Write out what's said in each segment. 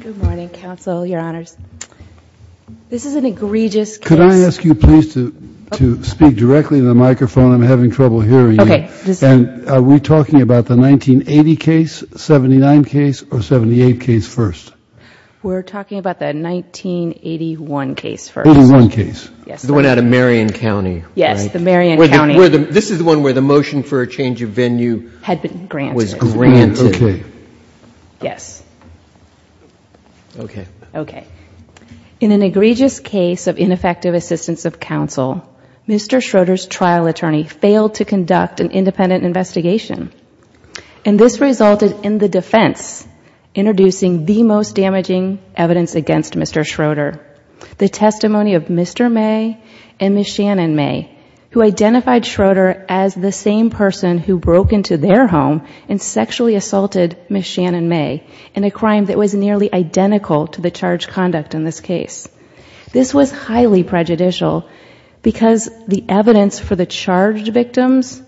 Good morning, counsel, your honors. This is an egregious case. Could I ask you please to speak directly to the microphone? I'm having trouble hearing you. Okay. And are we talking about the 1980 case, 79 case, or 78 case first? We're talking about that 1981 case first. 1981 case. Yes. The one out of Marion County. Yes, the Marion County. This is the one where the motion for a change of venue had been granted. It was granted. Okay. Yes. Okay. Okay. In an egregious case of ineffective assistance of counsel, Mr. Schroeder's trial attorney failed to conduct an independent investigation, and this resulted in the defense introducing the most damaging evidence against Mr. Schroeder, the testimony of Mr. May and Ms. Shannon May, who identified Schroeder as the same person who broke into their home and sexually assaulted Ms. Shannon May in a crime that was nearly identical to the charge conduct in this case. This was highly prejudicial because the evidence for the charged victims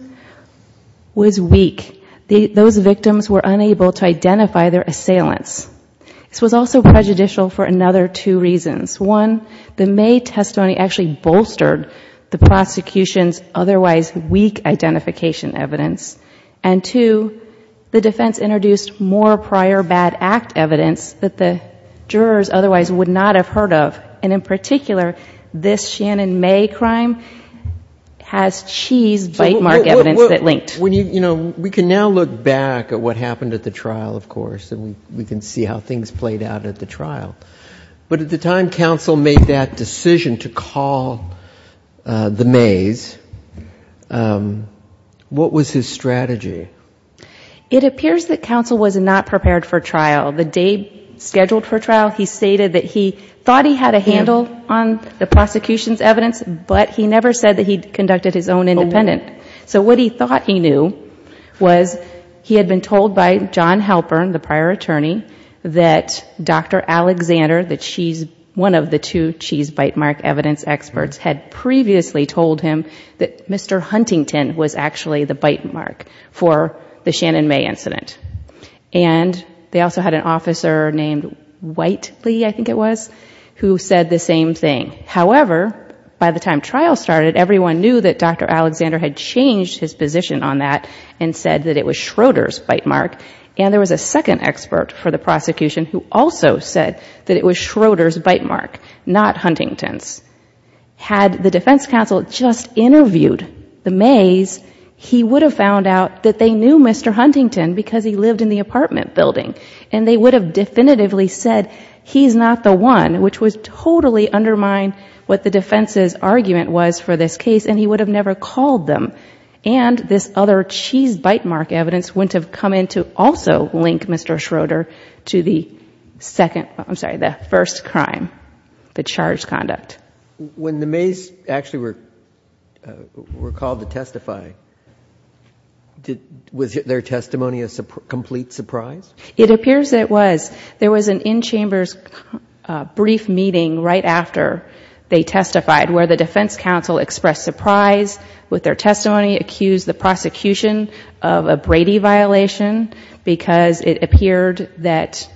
was weak. Those victims were unable to identify their assailants. This was also prejudicial for another two reasons. One, the May prosecution's otherwise weak identification evidence, and two, the defense introduced more prior bad act evidence that the jurors otherwise would not have heard of, and in particular, this Shannon May crime has cheese bite mark evidence that linked. You know, we can now look back at what happened at the trial, of course, and we can see how things played out at the trial, but at the time when counsel made that decision to call the Mays, what was his strategy? It appears that counsel was not prepared for trial. The day scheduled for trial, he stated that he thought he had a handle on the prosecution's evidence, but he never said that he conducted his own independent. So what he thought he knew was he had been told by John Halpern, the prior attorney, that Dr. Alexander, the cheese, one of the two cheese bite mark evidence experts, had previously told him that Mr. Huntington was actually the bite mark for the Shannon May incident, and they also had an officer named Whitely, I think it was, who said the same thing. However, by the time trial started, everyone knew that Dr. Alexander had changed his position on that and said that it was Schroeder's bite mark, and there was a second expert for the prosecution who also said that it was Schroeder's bite mark, not Huntington's. Had the defense counsel just interviewed the Mays, he would have found out that they knew Mr. Huntington because he lived in the apartment building, and they would have definitively said he's not the one, which would totally undermine what the defense's argument was for this case, and he would have never called them, and this other cheese bite mark evidence wouldn't have come in to also link Mr. Schroeder to the second, I'm sorry, the first crime, the charged conduct. When the Mays actually were called to testify, was their testimony a complete surprise? It appears it was. There was an in-chambers brief meeting right after they testified where the defense counsel expressed surprise with their testimony, accused the prosecution of a Brady violation because it appeared that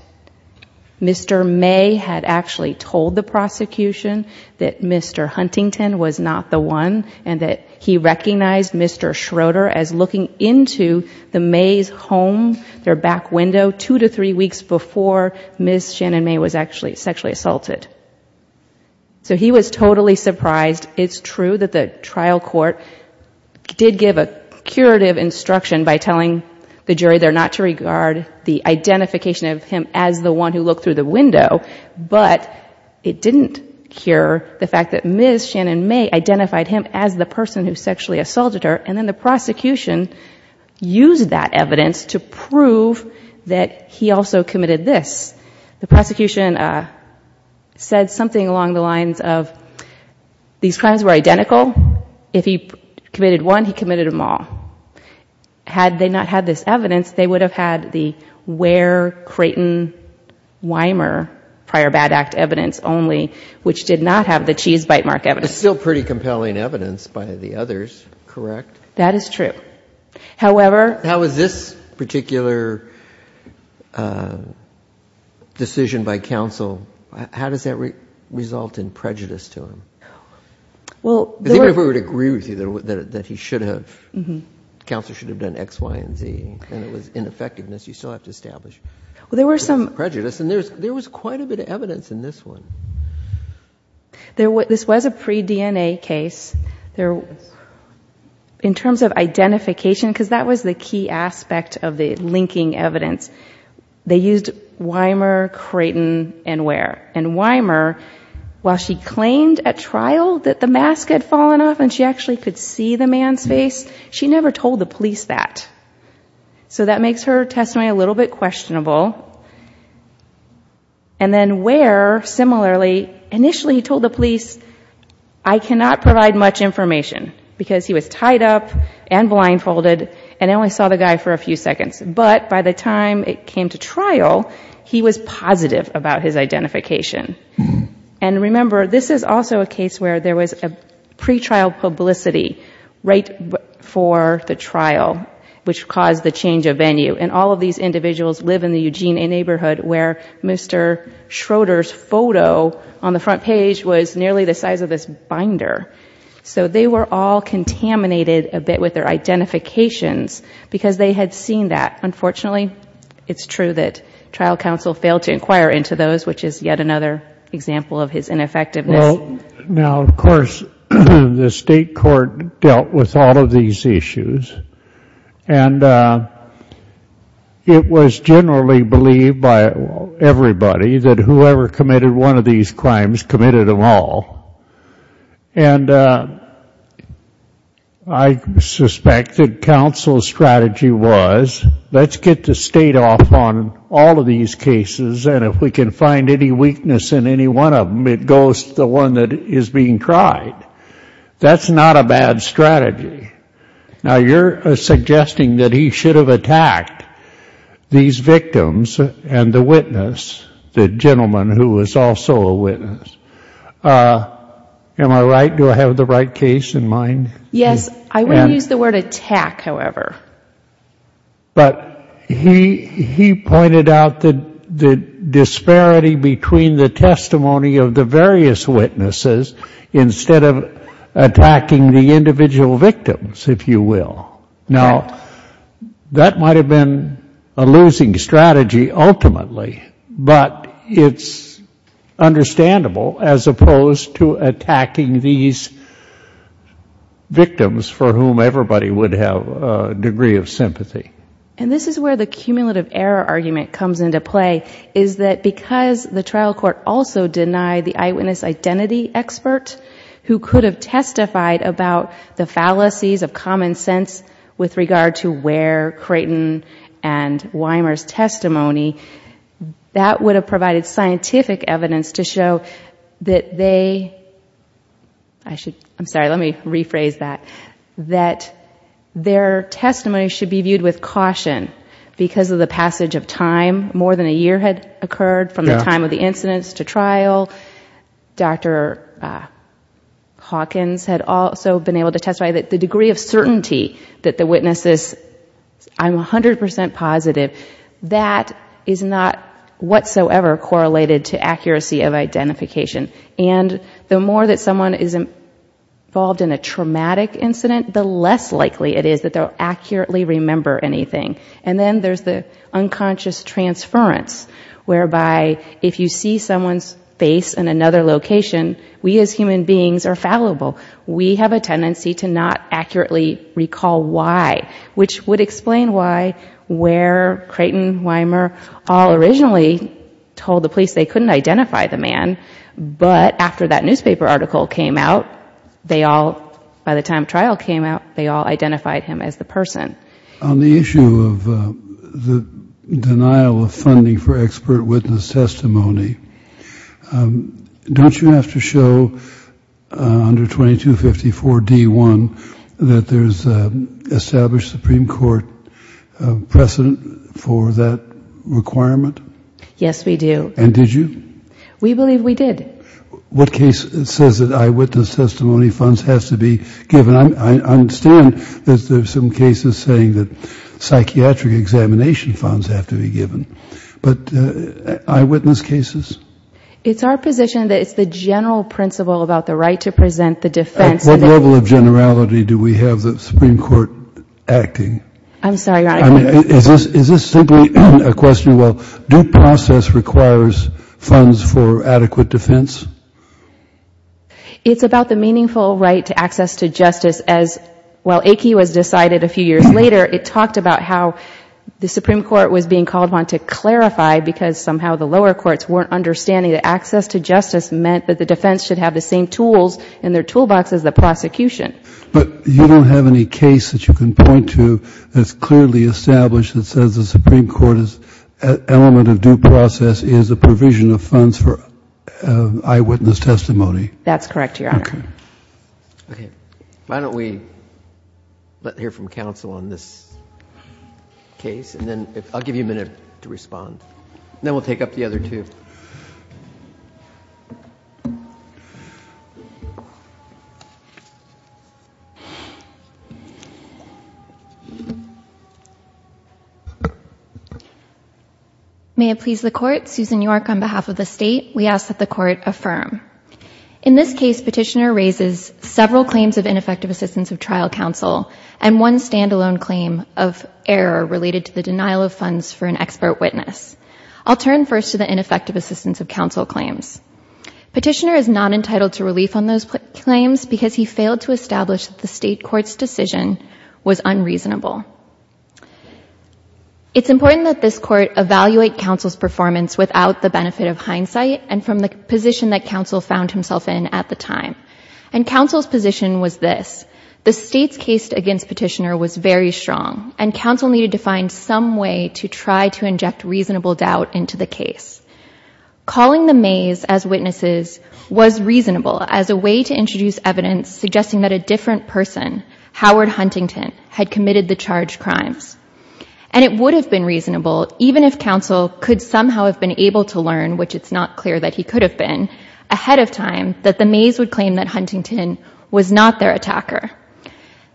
Mr. May had actually told the prosecution that Mr. Huntington was not the one and that he recognized Mr. Schroeder as looking into the Mays' home, their back window, two to three weeks before Ms. Shannon May was actually sexually assaulted. So he was totally surprised. It's true that the trial court did give a curative instruction by telling the jury they're not to regard the identification of him as the one who looked through the window, but it didn't cure the fact that Ms. Shannon May identified him as the person who sexually assaulted her, and then the prosecution used that evidence to prove that he also committed this. The prosecution said something along the lines of these crimes were identical. If he committed one, he committed them all. Had they not had this evidence, they would have had the Ware, Creighton, Weimer prior bad act evidence only, which did not have the cheese bite mark evidence. It's still pretty compelling evidence by the others, correct? That is true. However... How is this particular decision by counsel, how does that result in prejudice to him? Well... Because even if we were to agree with you that he should have, counsel should have done X, Y, and Z, and it was ineffectiveness, you still have to establish prejudice. Well, there were some... And there was quite a bit of evidence in this one. This was a pre-DNA case. In terms of identification, because that was the key aspect of the linking evidence, they used Weimer, Creighton, and Ware. And Weimer, while she claimed at trial that the mask had fallen off and she actually could see the man's face, she never told the police that. So that makes her testimony a little bit questionable. And then Ware, similarly, initially told the police, I cannot provide much And I only saw the guy for a few seconds. But by the time it came to trial, he was positive about his identification. And remember, this is also a case where there was a pre-trial publicity right for the trial, which caused the change of venue. And all of these individuals live in the Eugene neighborhood where Mr. Schroeder's photo on the front page was nearly the size of this binder. So they were all contaminated a bit with their identifications, because they had seen that. Unfortunately, it's true that trial counsel failed to inquire into those, which is yet another example of his ineffectiveness. Now, of course, the state court dealt with all of these issues. And it was generally believed by everybody that whoever committed one of And I suspect that counsel's strategy was, let's get the state off on all of these cases. And if we can find any weakness in any one of them, it goes to the one that is being tried. That's not a bad strategy. Now, you're suggesting that he should have attacked these victims and the witness, the gentleman who was also a witness. Am I right? Do I have the right case in mind? Yes. I wouldn't use the word attack, however. But he pointed out the disparity between the testimony of the various witnesses instead of attacking the individual victims, if you will. Now, that might have been a losing strategy ultimately. But it's understandable, as opposed to attacking these victims for whom everybody would have a degree of sympathy. And this is where the cumulative error argument comes into play, is that because the trial court also denied the eyewitness identity expert who could have testified about the fallacies of common sense with regard to Ware, Creighton, and Weimer's testimony, that would have provided scientific evidence to show that they, I'm sorry, let me rephrase that, that their testimony should be viewed with caution because of the passage of time. More than a year had occurred from the time of the incidents to trial. Dr. Hawkins had also been able to testify that the degree of certainty that the witnesses, I'm 100% positive, that is not whatsoever correlated to accuracy of identification. And the more that someone is involved in a traumatic incident, the less likely it is that they'll accurately remember anything. And then there's the unconscious transference, whereby if you see someone's face in another location, we as human beings are fallible. We have a tendency to not accurately recall why, which would explain why Ware, Creighton, Weimer all originally told the police they couldn't identify the man. But after that newspaper article came out, they all, by the time trial came out, they all identified him as the person. On the issue of the denial of funding for expert witness testimony, don't you have to show under 2254 D1 that there's established Supreme Court precedent for that requirement? Yes, we do. And did you? We believe we did. What case says that eyewitness testimony funds has to be given? I understand that there's some cases saying that psychiatric examination funds have to be given. But eyewitness cases? It's our position that it's the general principle about the right to present the defense. At what level of generality do we have the Supreme Court acting? I'm sorry, Your Honor. Is this simply a question, well, due process requires funds for adequate defense? It's about the meaningful right to access to justice as, well, Aiki was decided a few years later, it talked about how the Supreme Court was being called upon to clarify because somehow the lower courts weren't understanding that access to justice meant that the defense should have the same tools in their toolbox as the prosecution. But you don't have any case that you can point to that's clearly established that says the Supreme Court's element of due process is a provision of funds for eyewitness testimony? That's correct, Your Honor. Okay. Why don't we hear from counsel on this case, and then I'll give you a minute to respond. Then we'll take up the other two. May it please the Court, Susan York on behalf of the State, we ask that the Court affirm. In this case, petitioner raises several claims of ineffective assistance of trial counsel and one standalone claim of error related to the denial of funds for an expert witness. I'll turn first to the ineffective assistance of counsel claims. Petitioner is not entitled to relief on those claims because he failed to establish that the State Court's decision was unreasonable. It's important that this Court evaluate counsel's performance without the evidence that counsel found himself in at the time. And counsel's position was this. The State's case against petitioner was very strong, and counsel needed to find some way to try to inject reasonable doubt into the case. Calling the Mays as witnesses was reasonable as a way to introduce evidence suggesting that a different person, Howard Huntington, had committed the charged crimes. And it would have been reasonable, even if counsel could somehow have been able to learn, which it's not clear that he could have been, ahead of time that the Mays would claim that Huntington was not their attacker.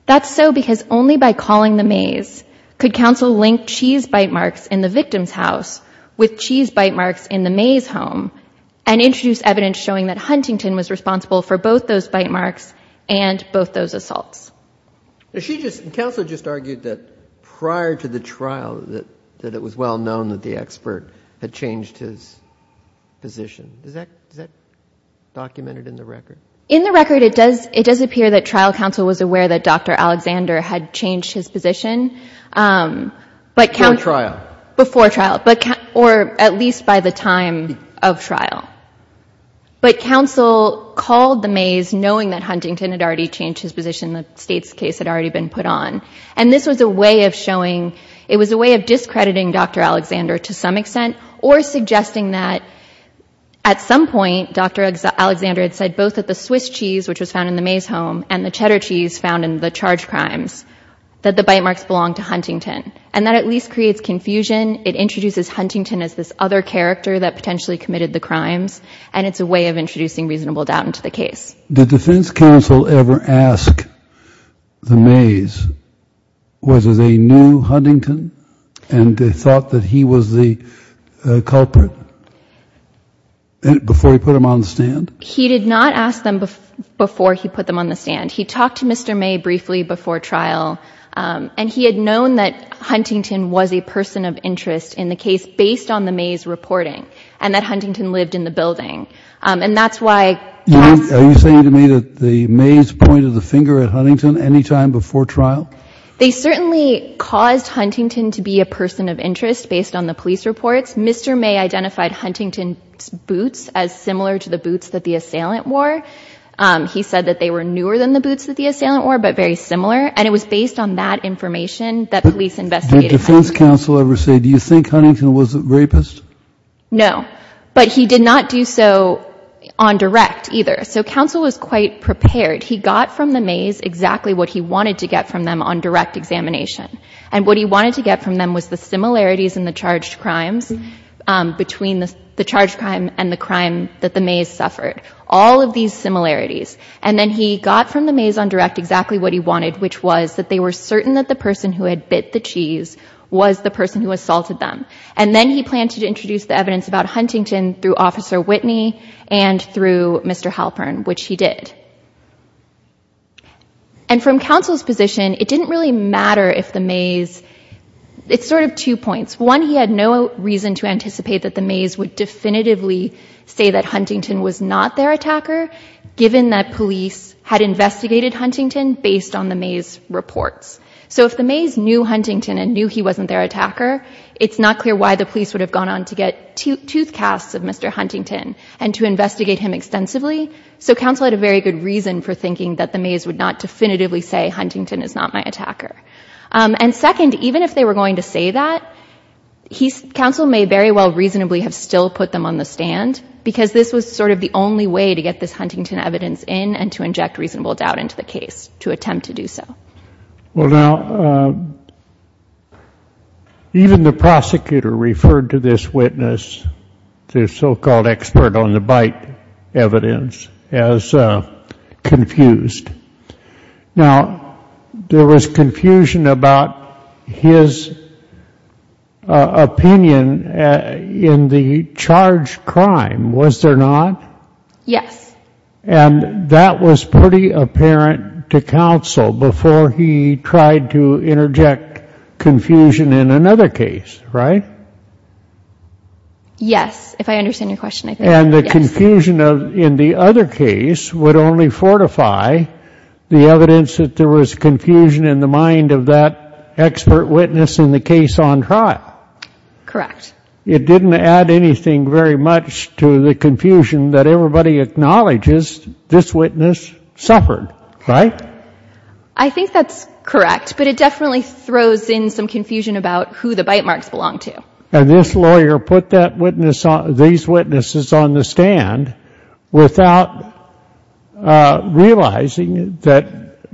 That's so because only by calling the Mays could counsel link cheese bite marks in the victim's house with cheese bite marks in the Mays' home and introduce evidence showing that Huntington was responsible for both those bite marks and both those assaults. And she just, and counsel just argued that prior to the trial that it was well known that the expert had changed his position. Is that documented in the record? In the record, it does appear that trial counsel was aware that Dr. Alexander had changed his position. Before trial. Before trial. Or at least by the time of trial. But counsel called the Mays knowing that Huntington had already changed his position, the State's case had already been put on. And this was a way of showing, it was a way of discrediting Dr. Alexander to some extent or suggesting that at some point, Dr. Alexander had said both that the Swiss cheese, which was found in the Mays' home and the cheddar cheese found in the charged crimes, that the bite marks belong to Huntington. And that at least creates confusion. It introduces Huntington as this other character that potentially committed the crimes. And it's a way of introducing reasonable doubt into the case. Did defense counsel ever ask the Mays whether they knew Huntington and thought that he was the culprit before he put them on the stand? He did not ask them before he put them on the stand. He talked to Mr. May briefly before trial. And he had known that Huntington was a person of interest in the case based on the Mays' reporting and that Huntington lived in the building. And that's why... Are you saying to me that the Mays pointed the finger at Huntington any time before trial? They certainly caused Huntington to be a person of interest based on the police reports. Mr. May identified Huntington's boots as similar to the boots that the assailant wore. He said that they were newer than the boots that the assailant wore, but very similar. And it was based on that information that police investigated. Did defense counsel ever say, do you think Huntington was a rapist? No. But he did not do so on direct either. So counsel was quite prepared. He got from the Mays exactly what he wanted to get from them on direct examination. And what he wanted to get from them was the similarities in the charged crimes between the charged crime and the crime that the Mays suffered. All of these similarities. And then he got from the Mays on direct exactly what he wanted, which was that they were certain that the person who had bit the cheese was the person who assaulted them. And then he planned to introduce the evidence about Huntington through Officer Whitney and through Mr. Halpern, which he did. And from counsel's position, it didn't really matter if the Mays, it's sort of two points. One, he had no reason to anticipate that the Mays would definitively say that Huntington was not their attacker, given that police had investigated Huntington based on the Mays reports. So if the Mays knew Huntington and knew he wasn't their attacker, it's not clear why the police would have gone on to get tooth casts of Mr. Huntington and to investigate him extensively. So counsel had a very good reason for thinking that the Mays would not definitively say Huntington is not my attacker. And second, even if they were going to say that he's counsel may very well reasonably have still put them on the stand because this was sort of the only way to get this Huntington evidence in and to inject reasonable doubt into the case to attempt to do so. Well, now, even the prosecutor referred to this witness, the so-called expert on the bite evidence, as confused. Now, there was confusion about his opinion in the charge crime, was there not? Yes. And that was pretty apparent to counsel before he tried to interject confusion in another case, right? Yes. If I understand your question. And the confusion in the other case would only fortify the evidence that there was confusion in the mind of that expert witness in the case on trial. Correct. It didn't add anything very much to the confusion that everybody acknowledges this witness suffered, right? I think that's correct, but it definitely throws in some confusion about who the bite marks belong to. And this lawyer put these witnesses on the stand without realizing that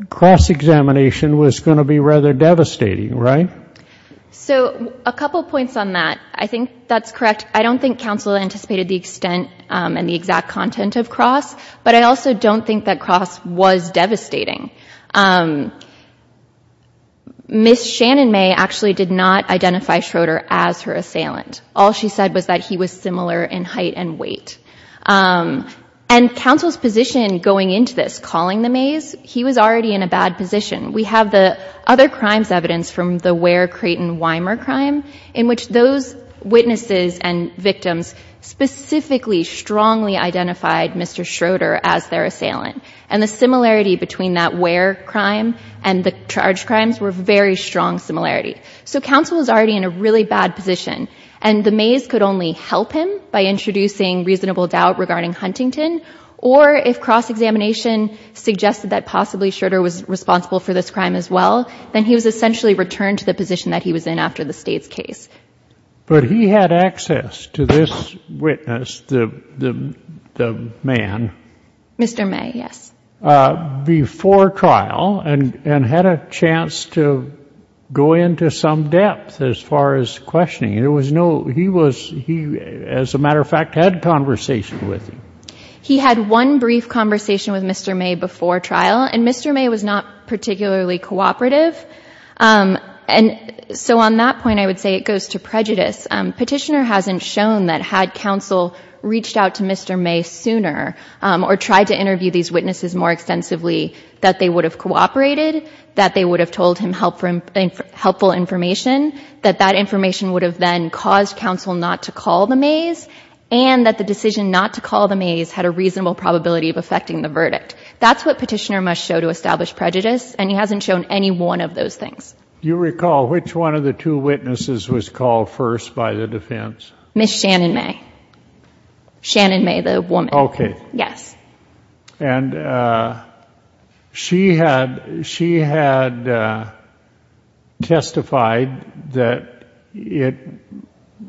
cross-examination was going to be rather devastating, right? So a couple points on that. I think that's correct. I don't think counsel anticipated the extent and the exact content of cross, but I also don't think that cross was devastating. Miss Shannon May actually did not identify Schroeder as her assailant. All she said was that he was similar in height and weight. And counsel's position going into this, calling the Mays, he was already in a bad position. We have the other crimes evidence from the Ware, those witnesses and victims specifically, strongly identified Mr. Schroeder as their assailant. And the similarity between that Ware crime and the charge crimes were very strong similarity. So counsel was already in a really bad position and the Mays could only help him by introducing reasonable doubt regarding Huntington. Or if cross-examination suggested that possibly Schroeder was responsible for this crime as well, then he was essentially returned to the position that he was in after the Wade's case. But he had access to this witness, the man. Mr. May. Yes. Before trial and had a chance to go into some depth as far as questioning. There was no, he was, he, as a matter of fact, had conversation with him. He had one brief conversation with Mr. May before trial and Mr. May was not particularly cooperative. And so on that point, I would say it goes to prejudice. Petitioner hasn't shown that had counsel reached out to Mr. May sooner or tried to interview these witnesses more extensively, that they would have cooperated, that they would have told him help from helpful information, that that information would have then caused counsel not to call the Mays and that the decision not to call the Mays had a reasonable probability of affecting the verdict. That's what petitioner must show to establish prejudice. And he hasn't shown any one of those things. Do you recall which one of the two witnesses was called first by the defense? Ms. Shannon May. Shannon May, the woman. Okay. Yes. And she had, she had testified that it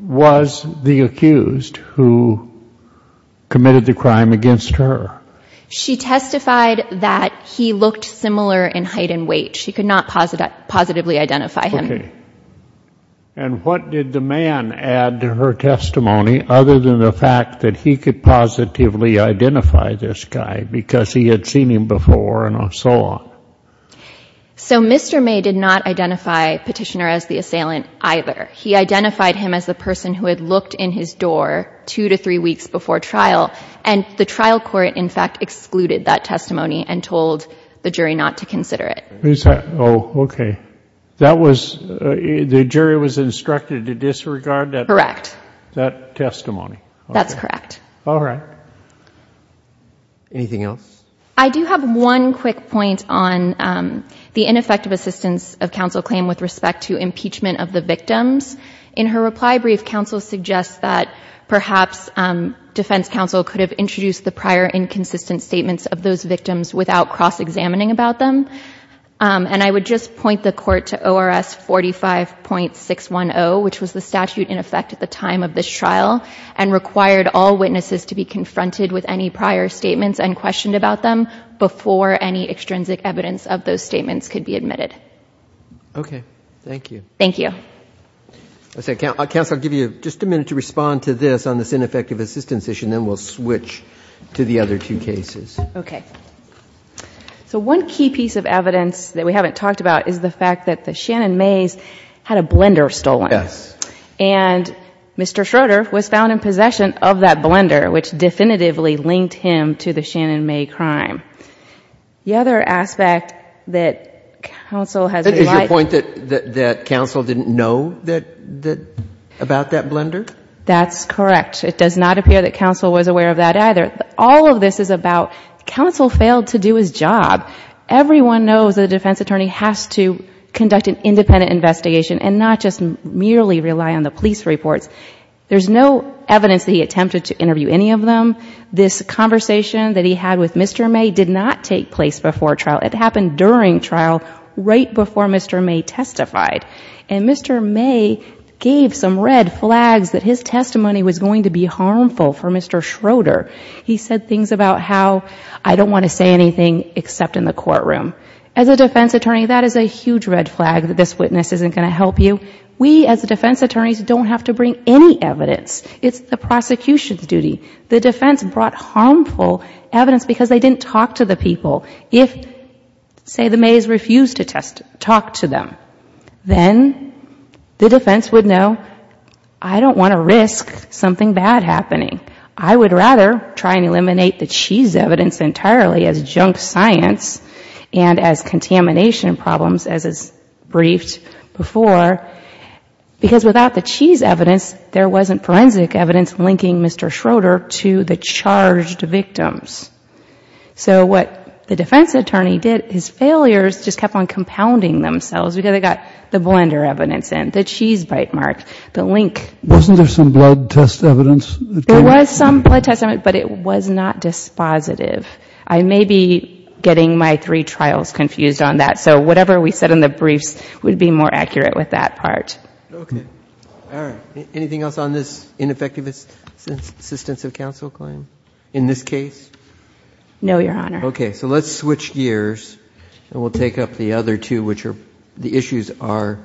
was the accused who committed the crime against her. She testified that he looked similar in height and weight. She could not positively identify him. Okay. And what did the man add to her testimony other than the fact that he could positively identify this guy because he had seen him before and so on? So Mr. May did not identify petitioner as the assailant either. He identified him as the person who had looked in his door two to three weeks before trial. And the trial court in fact excluded that testimony and told the jury not to consider it. Oh, okay. That was, the jury was instructed to disregard that? Correct. That testimony. That's correct. All right. Anything else? I do have one quick point on the ineffective assistance of counsel claim with respect to impeachment of the victims. In her reply brief, counsel suggests that perhaps defense counsel could have introduced the prior inconsistent statements of those victims without cross-examining about them. And I would just point the court to ORS 45.610, which was the statute in effect at the time of this trial and required all witnesses to be confronted with any prior statements and questioned about them before any extrinsic evidence of those statements could be admitted. Okay. Thank you. Counsel, I'll give you just a minute to respond to this on this ineffective assistance issue, and then we'll switch to the other two cases. Okay. So one key piece of evidence that we haven't talked about is the fact that the Shannon Mays had a blender stolen. Yes. And Mr. Schroeder was found in possession of that blender, which definitively linked him to the Shannon May crime. The other aspect that counsel has implied... The point that counsel didn't know about that blender? That's correct. It does not appear that counsel was aware of that either. All of this is about counsel failed to do his job. Everyone knows that a defense attorney has to conduct an independent investigation and not just merely rely on the police reports. There's no evidence that he attempted to interview any of them. This conversation that he had with Mr. May did not take place before trial. It happened during trial right before Mr. May testified, and Mr. May gave some red flags that his testimony was going to be harmful for Mr. Schroeder. He said things about how, I don't want to say anything except in the courtroom. As a defense attorney, that is a huge red flag that this witness isn't going to help you. We, as defense attorneys, don't have to bring any evidence. It's the prosecution's duty. The defense brought harmful evidence because they didn't talk to the people. If, say, the Mays refused to talk to them, then the defense would know, I don't want to risk something bad happening. I would rather try and eliminate the cheese evidence entirely as junk science and as contamination problems, as is briefed before, because without the cheese evidence, there wasn't forensic evidence linking Mr. Schroeder to the charged victims. So what the defense attorney did, his failures just kept on compounding themselves because they got the blender evidence in, the cheese bite mark, the link. Wasn't there some blood test evidence? There was some blood test evidence, but it was not dispositive. I may be getting my three trials confused on that, so whatever we said in the briefs would be more accurate with that part. Okay. All right. Anything else on this ineffective assistance of counsel claim in this case? No, Your Honor. Okay. So let's switch gears and we'll take up the other two, which are the issues are,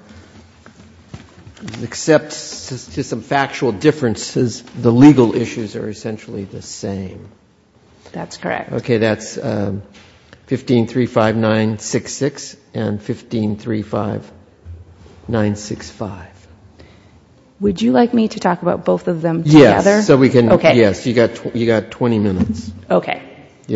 except to some factual differences, the legal issues are essentially the same. That's correct. Okay. That's 1535966 and 1535965. Would you like me to talk about both of them together? Yes. Okay. Yes. You've got 20 minutes. Okay.